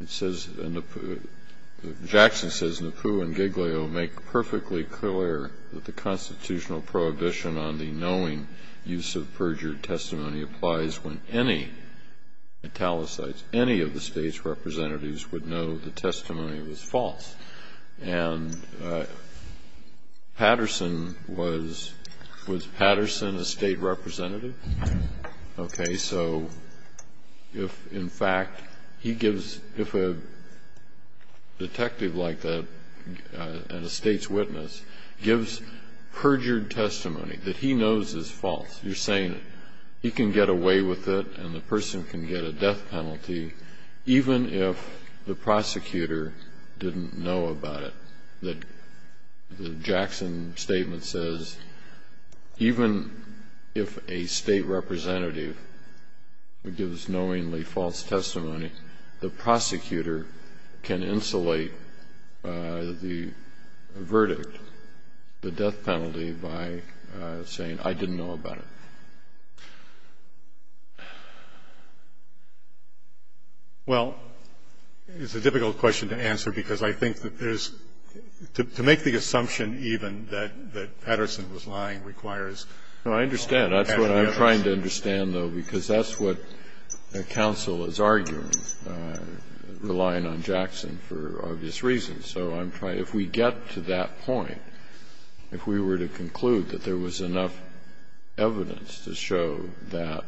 It says, Jackson says, Apu and Giglio make perfectly clear that the constitutional prohibition on the knowing use of perjured testimony applies when any italicized, any of the State's representatives would know the testimony was false. And Patterson was, was Patterson a State representative? Okay. So if, in fact, he gives, if a detective like that and a State's witness gives perjured testimony that he knows is false, you're saying he can get away with it and the person can get a death penalty even if the prosecutor didn't know about it. Well, it's a difficult question to answer, because I think that there's, there's To make the assumption even that, that Patterson was lying requires. No, I understand. That's what I'm trying to understand, though, because that's what counsel is arguing, relying on Jackson for obvious reasons. So I'm trying, if we get to that point, if we were to conclude that there was enough evidence to show that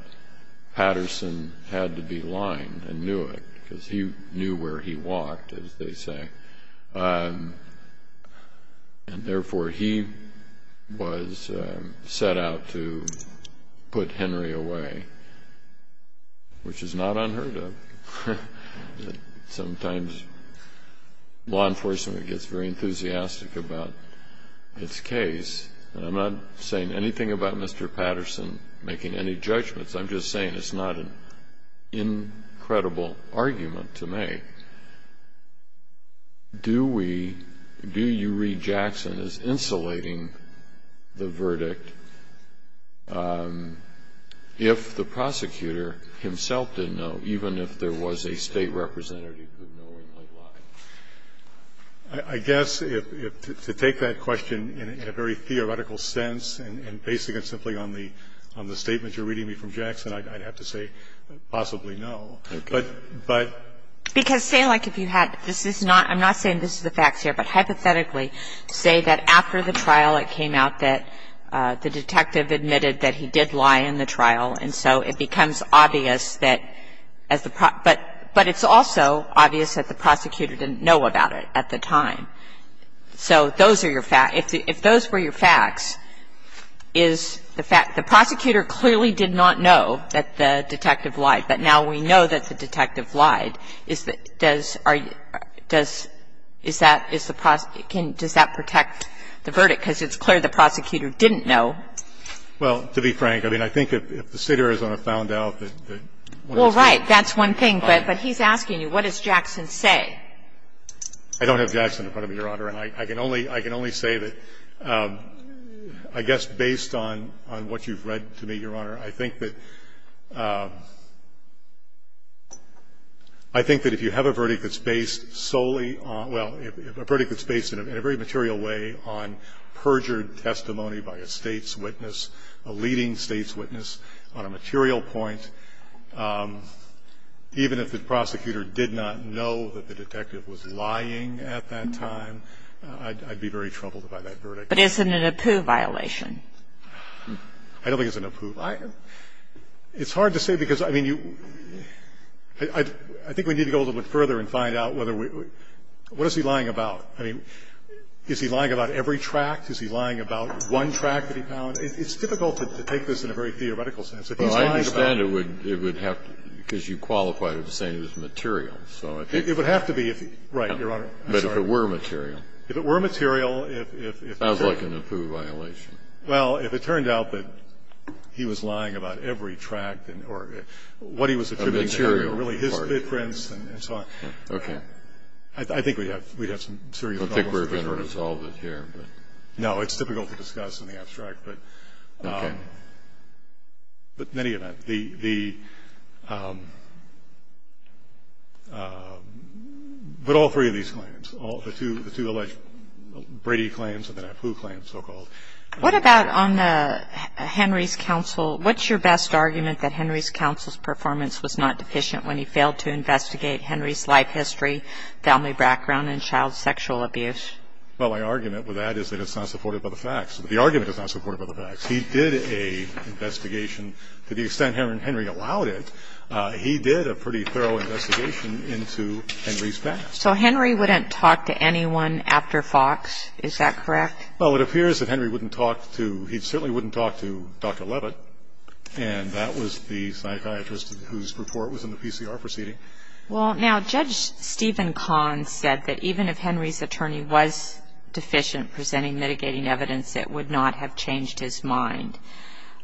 Patterson had to be lying and knew it, because he knew where he walked, as they say, and therefore he was set out to put Henry away, which is not unheard of. Sometimes law enforcement gets very enthusiastic about its case. And I'm not saying anything about Mr. Patterson making any judgments. I'm just saying it's not an incredible argument to make. Do we, do you read Jackson as insulating the verdict if the prosecutor himself didn't know, even if there was a State representative who knowingly lied? I guess if, to take that question in a very theoretical sense and basing it simply on the statement you're reading me from Jackson, I'd have to say possibly no. But, but. Because say like if you had, this is not, I'm not saying this is the facts here, but hypothetically, say that after the trial it came out that the detective admitted that he did lie in the trial, and so it becomes obvious that as the, but it's also obvious that the prosecutor didn't know about it at the time. So those are your facts. If those were your facts, is the fact the prosecutor clearly did not know that the detective lied, but now we know that the detective lied, is that, does, are you, does, is that, is the prosecutor, can, does that protect the verdict? Because it's clear the prosecutor didn't know. Well, to be frank, I mean, I think if the State or Arizona found out that, that one of the State. Well, right. That's one thing. But he's asking you, what does Jackson say? I don't have Jackson in front of me, Your Honor. And I can only, I can only say that I guess based on, on what you've read to me, Your Honor, I think that, I think that if you have a verdict that's based solely on, well, a verdict that's based in a very material way on perjured testimony by a State's witness, a leading State's witness on a material point, even if the detective was lying at that time, I'd be very troubled by that verdict. But isn't it a Peau violation? I don't think it's a Peau violation. It's hard to say because, I mean, you, I think we need to go a little bit further and find out whether we, what is he lying about? I mean, is he lying about every tract? Is he lying about one tract that he found? It's difficult to take this in a very theoretical sense. If he's lying about it. Well, I understand it would have to, because you qualified it as saying it was material. It would have to be if, right, Your Honor. I'm sorry. But if it were material. If it were material, if, if, if. Sounds like a Nepeu violation. Well, if it turned out that he was lying about every tract or what he was attributing to, really his footprints and so on. Okay. I think we'd have, we'd have some serious problems. I don't think we're going to resolve it here, but. No, it's difficult to discuss in the abstract, but. Okay. But in any event, the, the, but all three of these claims, the two alleged Brady claims and the Nepeu claims, so-called. What about on Henry's counsel, what's your best argument that Henry's counsel's performance was not deficient when he failed to investigate Henry's life history, family background and child sexual abuse? Well, my argument with that is that it's not supported by the facts. The argument is not supported by the facts. He did a investigation to the extent Henry, Henry allowed it. He did a pretty thorough investigation into Henry's past. So Henry wouldn't talk to anyone after Fox, is that correct? Well, it appears that Henry wouldn't talk to, he certainly wouldn't talk to Dr. Leavitt, and that was the psychiatrist whose report was in the PCR proceeding. Well, now Judge Stephen Kahn said that even if Henry's attorney was deficient presenting mitigating evidence, it would not have changed his mind.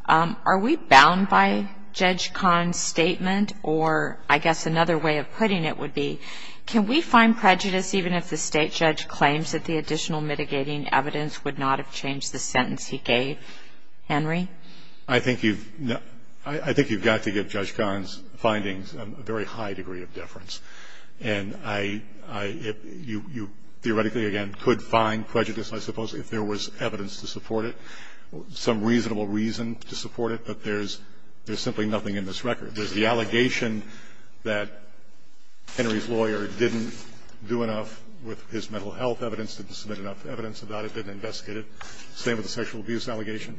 Are we bound by Judge Kahn's statement? Or I guess another way of putting it would be, can we find prejudice even if the State judge claims that the additional mitigating evidence would not have changed the sentence he gave? Henry? I think you've, I think you've got to give Judge Kahn's findings a very high degree of There was evidence to support it, some reasonable reason to support it, but there's simply nothing in this record. There's the allegation that Henry's lawyer didn't do enough with his mental health evidence, didn't submit enough evidence about it, didn't investigate it. Same with the sexual abuse allegation.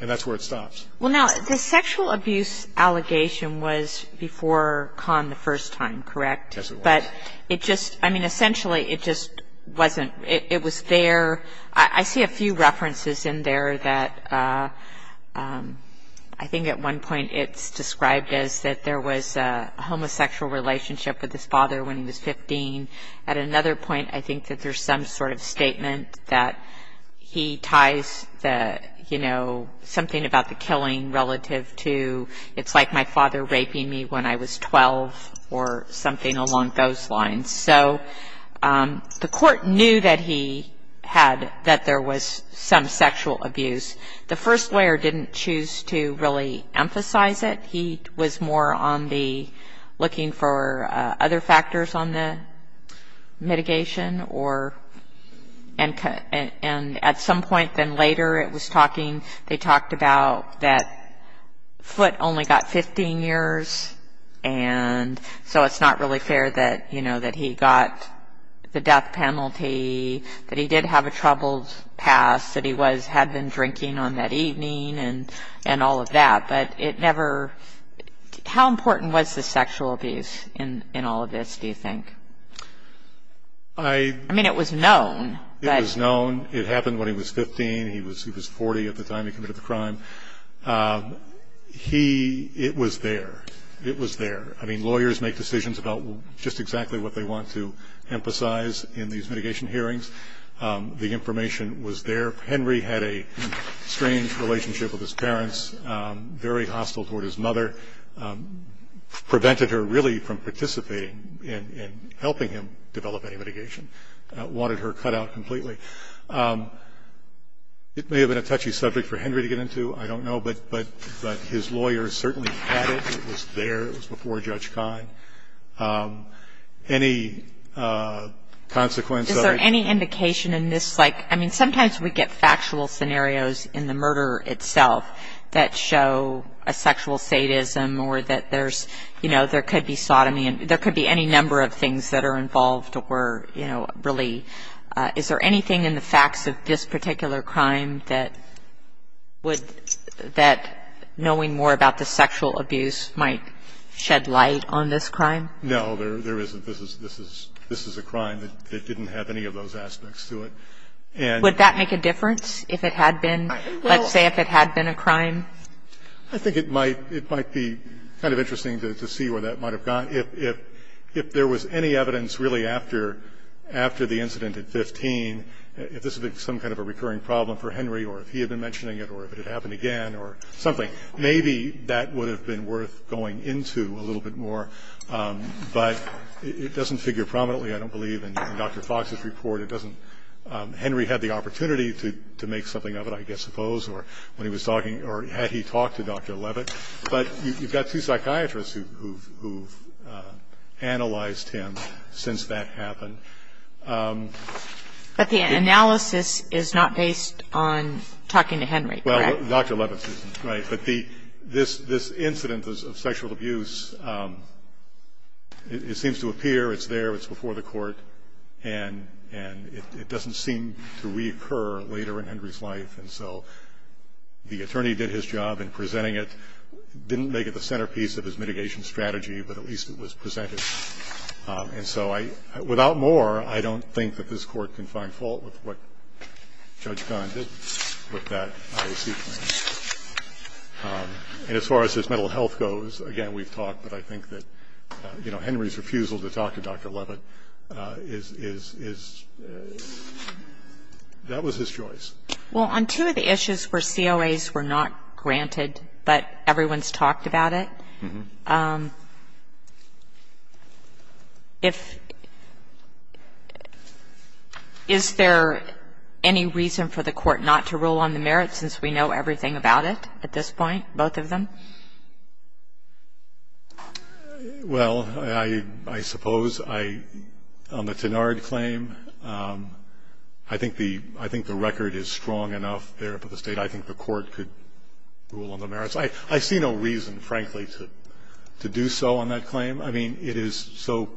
And that's where it stops. Well, now, the sexual abuse allegation was before Kahn the first time, correct? Yes, it was. But it just, I mean, essentially it just wasn't, it was there. I see a few references in there that I think at one point it's described as that there was a homosexual relationship with his father when he was 15. At another point, I think that there's some sort of statement that he ties the, you know, something about the killing relative to, it's like my father raping me when I was 12 or something along those lines. So the court knew that he had, that there was some sexual abuse. The first lawyer didn't choose to really emphasize it. He was more on the looking for other factors on the mitigation or, and at some point then later it was talking, they talked about that Foote only got 15 years and so it's not really fair that, you know, that he got the death penalty, that he did have a troubled past, that he was, had been drinking on that evening and all of that. But it never, how important was the sexual abuse in all of this, do you think? I mean, it was known. It was known. It happened when he was 15. He was 40 at the time he committed the crime. He, it was there. It was there. I mean, lawyers make decisions about just exactly what they want to emphasize in these mitigation hearings. The information was there. Henry had a strange relationship with his parents, very hostile toward his mother, prevented her really from participating in helping him develop any mitigation, wanted her cut out completely. It may have been a touchy subject for Henry to get into. I don't know. But his lawyer certainly had it. It was there. It was before Judge Kine. Any consequence of it? Is there any indication in this, like, I mean, sometimes we get factual scenarios in the murder itself that show a sexual sadism or that there's, you know, there could be sodomy. There could be any number of things that are involved or, you know, really. Is there anything in the facts of this particular crime that would, that knowing more about the sexual abuse might shed light on this crime? No, there isn't. This is a crime that didn't have any of those aspects to it. Would that make a difference if it had been, let's say if it had been a crime? I think it might. It might be kind of interesting to see where that might have gone. If there was any evidence really after the incident at 15, if this had been some kind of a recurring problem for Henry or if he had been mentioning it or if it had happened again or something, maybe that would have been worth going into a little bit more. But it doesn't figure prominently, I don't believe, in Dr. Fox's report. It doesn't. Henry had the opportunity to make something of it, I suppose, or when he was talking or had he talked to Dr. Levitt. But you've got two psychiatrists who've analyzed him since that happened. But the analysis is not based on talking to Henry, correct? Well, Dr. Levitt isn't, right. But this incident of sexual abuse, it seems to appear it's there, it's before the court, and it doesn't seem to reoccur later in Henry's life. And so the attorney did his job in presenting it, didn't make it the centerpiece of his mitigation strategy, but at least it was presented. And so without more, I don't think that this Court can find fault with what Judge Gunn did with that IOC plan. And as far as his mental health goes, again, we've talked, but I think that, you know, Henry's refusal to talk to Dr. Levitt is – that was his choice. Well, on two of the issues where COAs were not granted but everyone's talked about it, is there any reason for the Court not to rule on the merits, since we know everything about it at this point, both of them? Well, I suppose on the Tenard claim, I think the record is strong enough there for the State. I think the Court could rule on the merits. I see no reason, frankly, to do so on that claim. I mean, it is so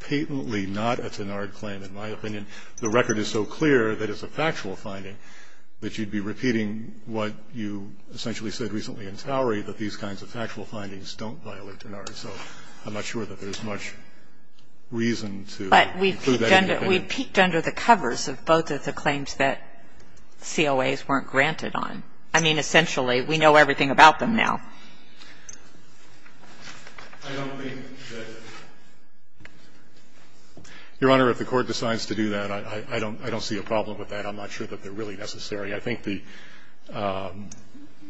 patently not a Tenard claim, in my opinion. The record is so clear that it's a factual finding that you'd be repeating what you essentially said recently in Towery, that these kinds of factual findings don't violate Tenard. So I'm not sure that there's much reason to include that in your claim. But we peeked under the covers of both of the claims that COAs weren't granted on. I mean, essentially, we know everything about them now. I don't think that – Your Honor, if the Court decides to do that, I don't see a problem with that. I'm not sure that they're really necessary. I think the,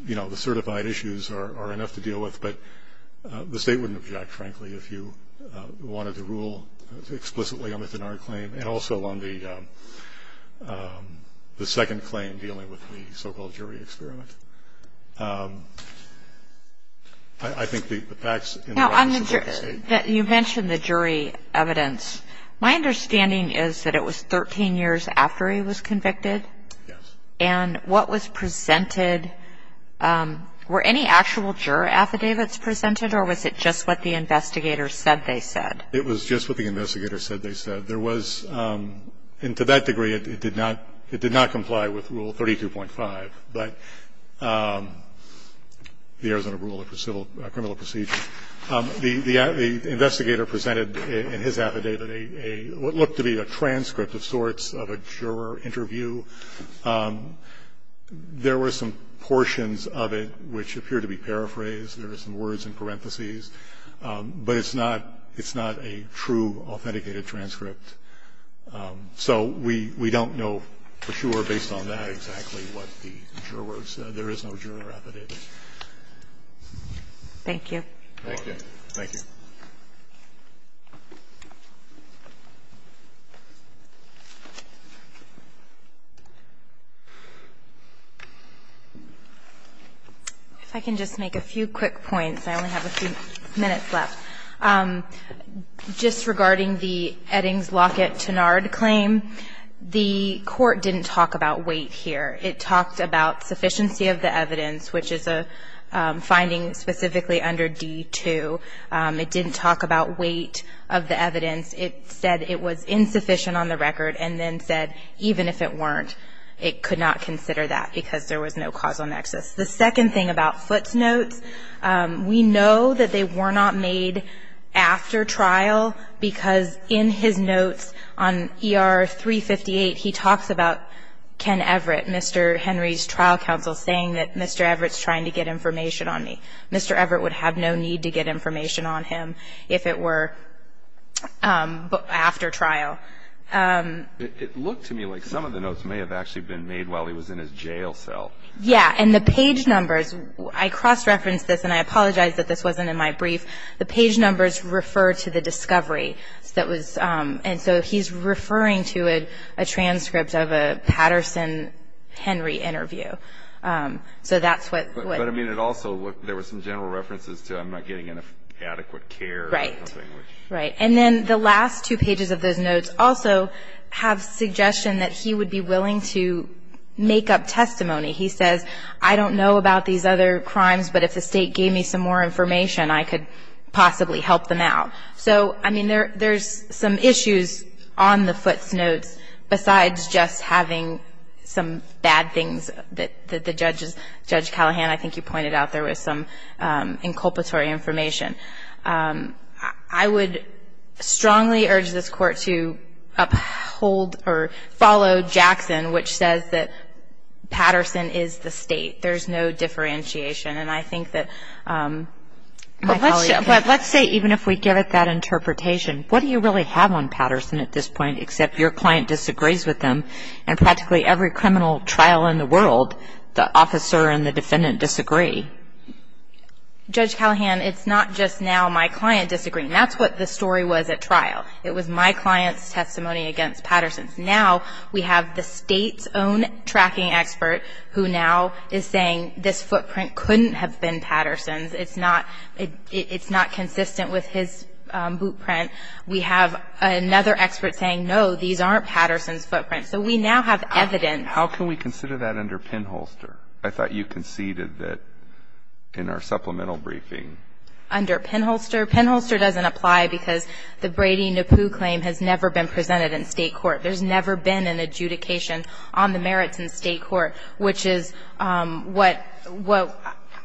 you know, the certified issues are enough to deal with. But the State wouldn't object, frankly, if you wanted to rule explicitly on the Tenard claim and also on the second claim dealing with the so-called jury experiment. I think the facts in the records of the State – Now, you mentioned the jury evidence. My understanding is that it was 13 years after he was convicted. Yes. And what was presented – were any actual juror affidavits presented, or was it just what the investigators said they said? It was just what the investigators said they said. There was – and to that degree, it did not – it did not comply with Rule 32.5, but the Arizona Rule of Criminal Procedure. The investigator presented in his affidavit a – what looked to be a transcript of sorts of a juror interview. There were some portions of it which appeared to be paraphrased. There were some words in parentheses. But it's not – it's not a true authenticated transcript. So we don't know for sure, based on that, exactly what the jurors said. There is no juror affidavit. Thank you. Thank you. Thank you. If I can just make a few quick points. I only have a few minutes left. Just regarding the Eddings Lockett-Tenard claim, the court didn't talk about weight here. It talked about sufficiency of the evidence, which is a finding specifically under D-2. It didn't talk about weight of the evidence. It said it was insufficient on the record and then said even if it weren't, it could not consider that because there was no causal nexus. The second thing about Foote's notes, we know that they were not made after trial because in his notes on ER 358, he talks about Ken Everett, Mr. Henry's trial counsel, saying that Mr. Everett's trying to get information on me. Mr. Everett would have no need to get information on him if it were after trial. It looked to me like some of the notes may have actually been made while he was in his jail cell. Yeah. And the page numbers, I cross-referenced this, and I apologize that this wasn't in my brief. The page numbers refer to the discovery. And so he's referring to a transcript of a Patterson-Henry interview. But, I mean, it also, there were some general references to I'm not getting adequate care. Right. Right. And then the last two pages of those notes also have suggestion that he would be willing to make up testimony. He says, I don't know about these other crimes, but if the State gave me some more information, I could possibly help them out. So, I mean, there's some issues on the footnotes besides just having some bad things that the judges, Judge Callahan, I think you pointed out there was some inculpatory information. I would strongly urge this Court to uphold or follow Jackson, which says that Patterson is the State. There's no differentiation. And I think that my colleague can. But let's say, even if we give it that interpretation, what do you really have on Patterson at this point except your client disagrees with him and practically every criminal trial in the world, the officer and the defendant disagree? Judge Callahan, it's not just now my client disagreeing. That's what the story was at trial. It was my client's testimony against Patterson's. Now we have the State's own tracking expert who now is saying this footprint couldn't have been Patterson's. It's not consistent with his boot print. We have another expert saying, no, these aren't Patterson's footprints. So we now have evidence. How can we consider that under Penholster? I thought you conceded that in our supplemental briefing. Under Penholster? Penholster doesn't apply because the Brady-Napoo claim has never been presented in State court. There's never been an adjudication on the merits in State court, which is what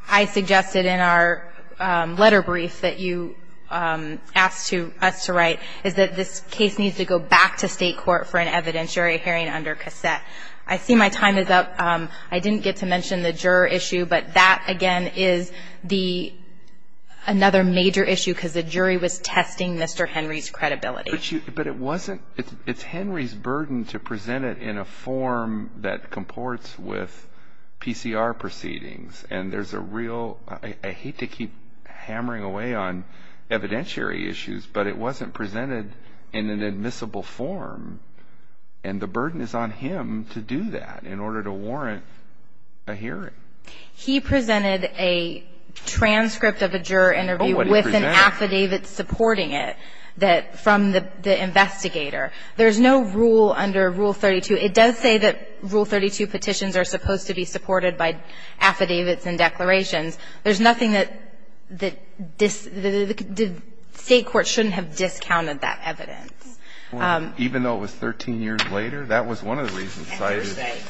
I suggested in our letter brief that you asked us to write, is that this case needs to go back to State court for an evidentiary hearing under cassette. I see my time is up. I didn't get to mention the juror issue, but that, again, is another major issue because the jury was testing Mr. Henry's credibility. But it wasn't – it's Henry's burden to present it in a form that comports with PCR proceedings, and there's a real – I hate to keep hammering away on evidentiary issues, but it wasn't presented in an admissible form, and the burden is on him to do that in order to warrant a hearing. He presented a transcript of a juror interview with an affidavit supporting it from the investigator. There's no rule under Rule 32. It does say that Rule 32 petitions are supposed to be supported by affidavits and declarations. There's nothing that the State court shouldn't have discounted that evidence. Even though it was 13 years later, that was one of the reasons cited.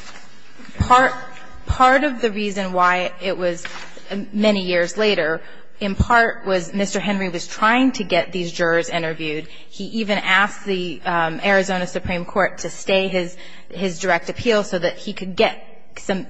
Part of the reason why it was many years later, in part, was Mr. Henry was trying to get these jurors interviewed. He even asked the Arizona Supreme Court to stay his direct appeal so that he could get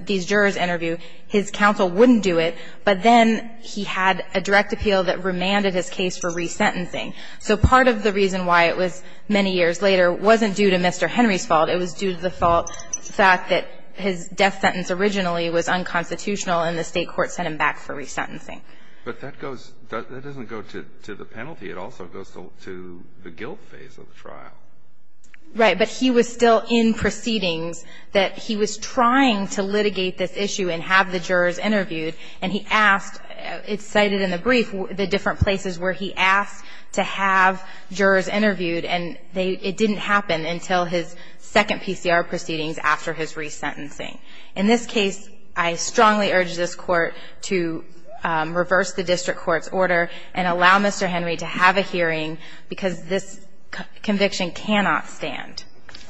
these jurors interviewed. His counsel wouldn't do it, but then he had a direct appeal that remanded his case for resentencing. So part of the reason why it was many years later wasn't due to Mr. Henry's fault. It was due to the fault – the fact that his death sentence originally was unconstitutional and the State court sent him back for resentencing. But that goes – that doesn't go to the penalty. It also goes to the guilt phase of the trial. Right. But he was still in proceedings that he was trying to litigate this issue and have the jurors interviewed, and he asked – it's cited in the brief, the different places where he asked to have jurors interviewed, and they – it didn't happen until his second PCR proceedings after his resentencing. In this case, I strongly urge this Court to reverse the district court's order and allow Mr. Henry to have a hearing because this conviction cannot stand.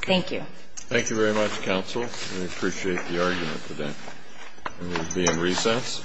Thank you. Thank you very much, counsel. We appreciate the argument today. We will be in recess. Case is submitted.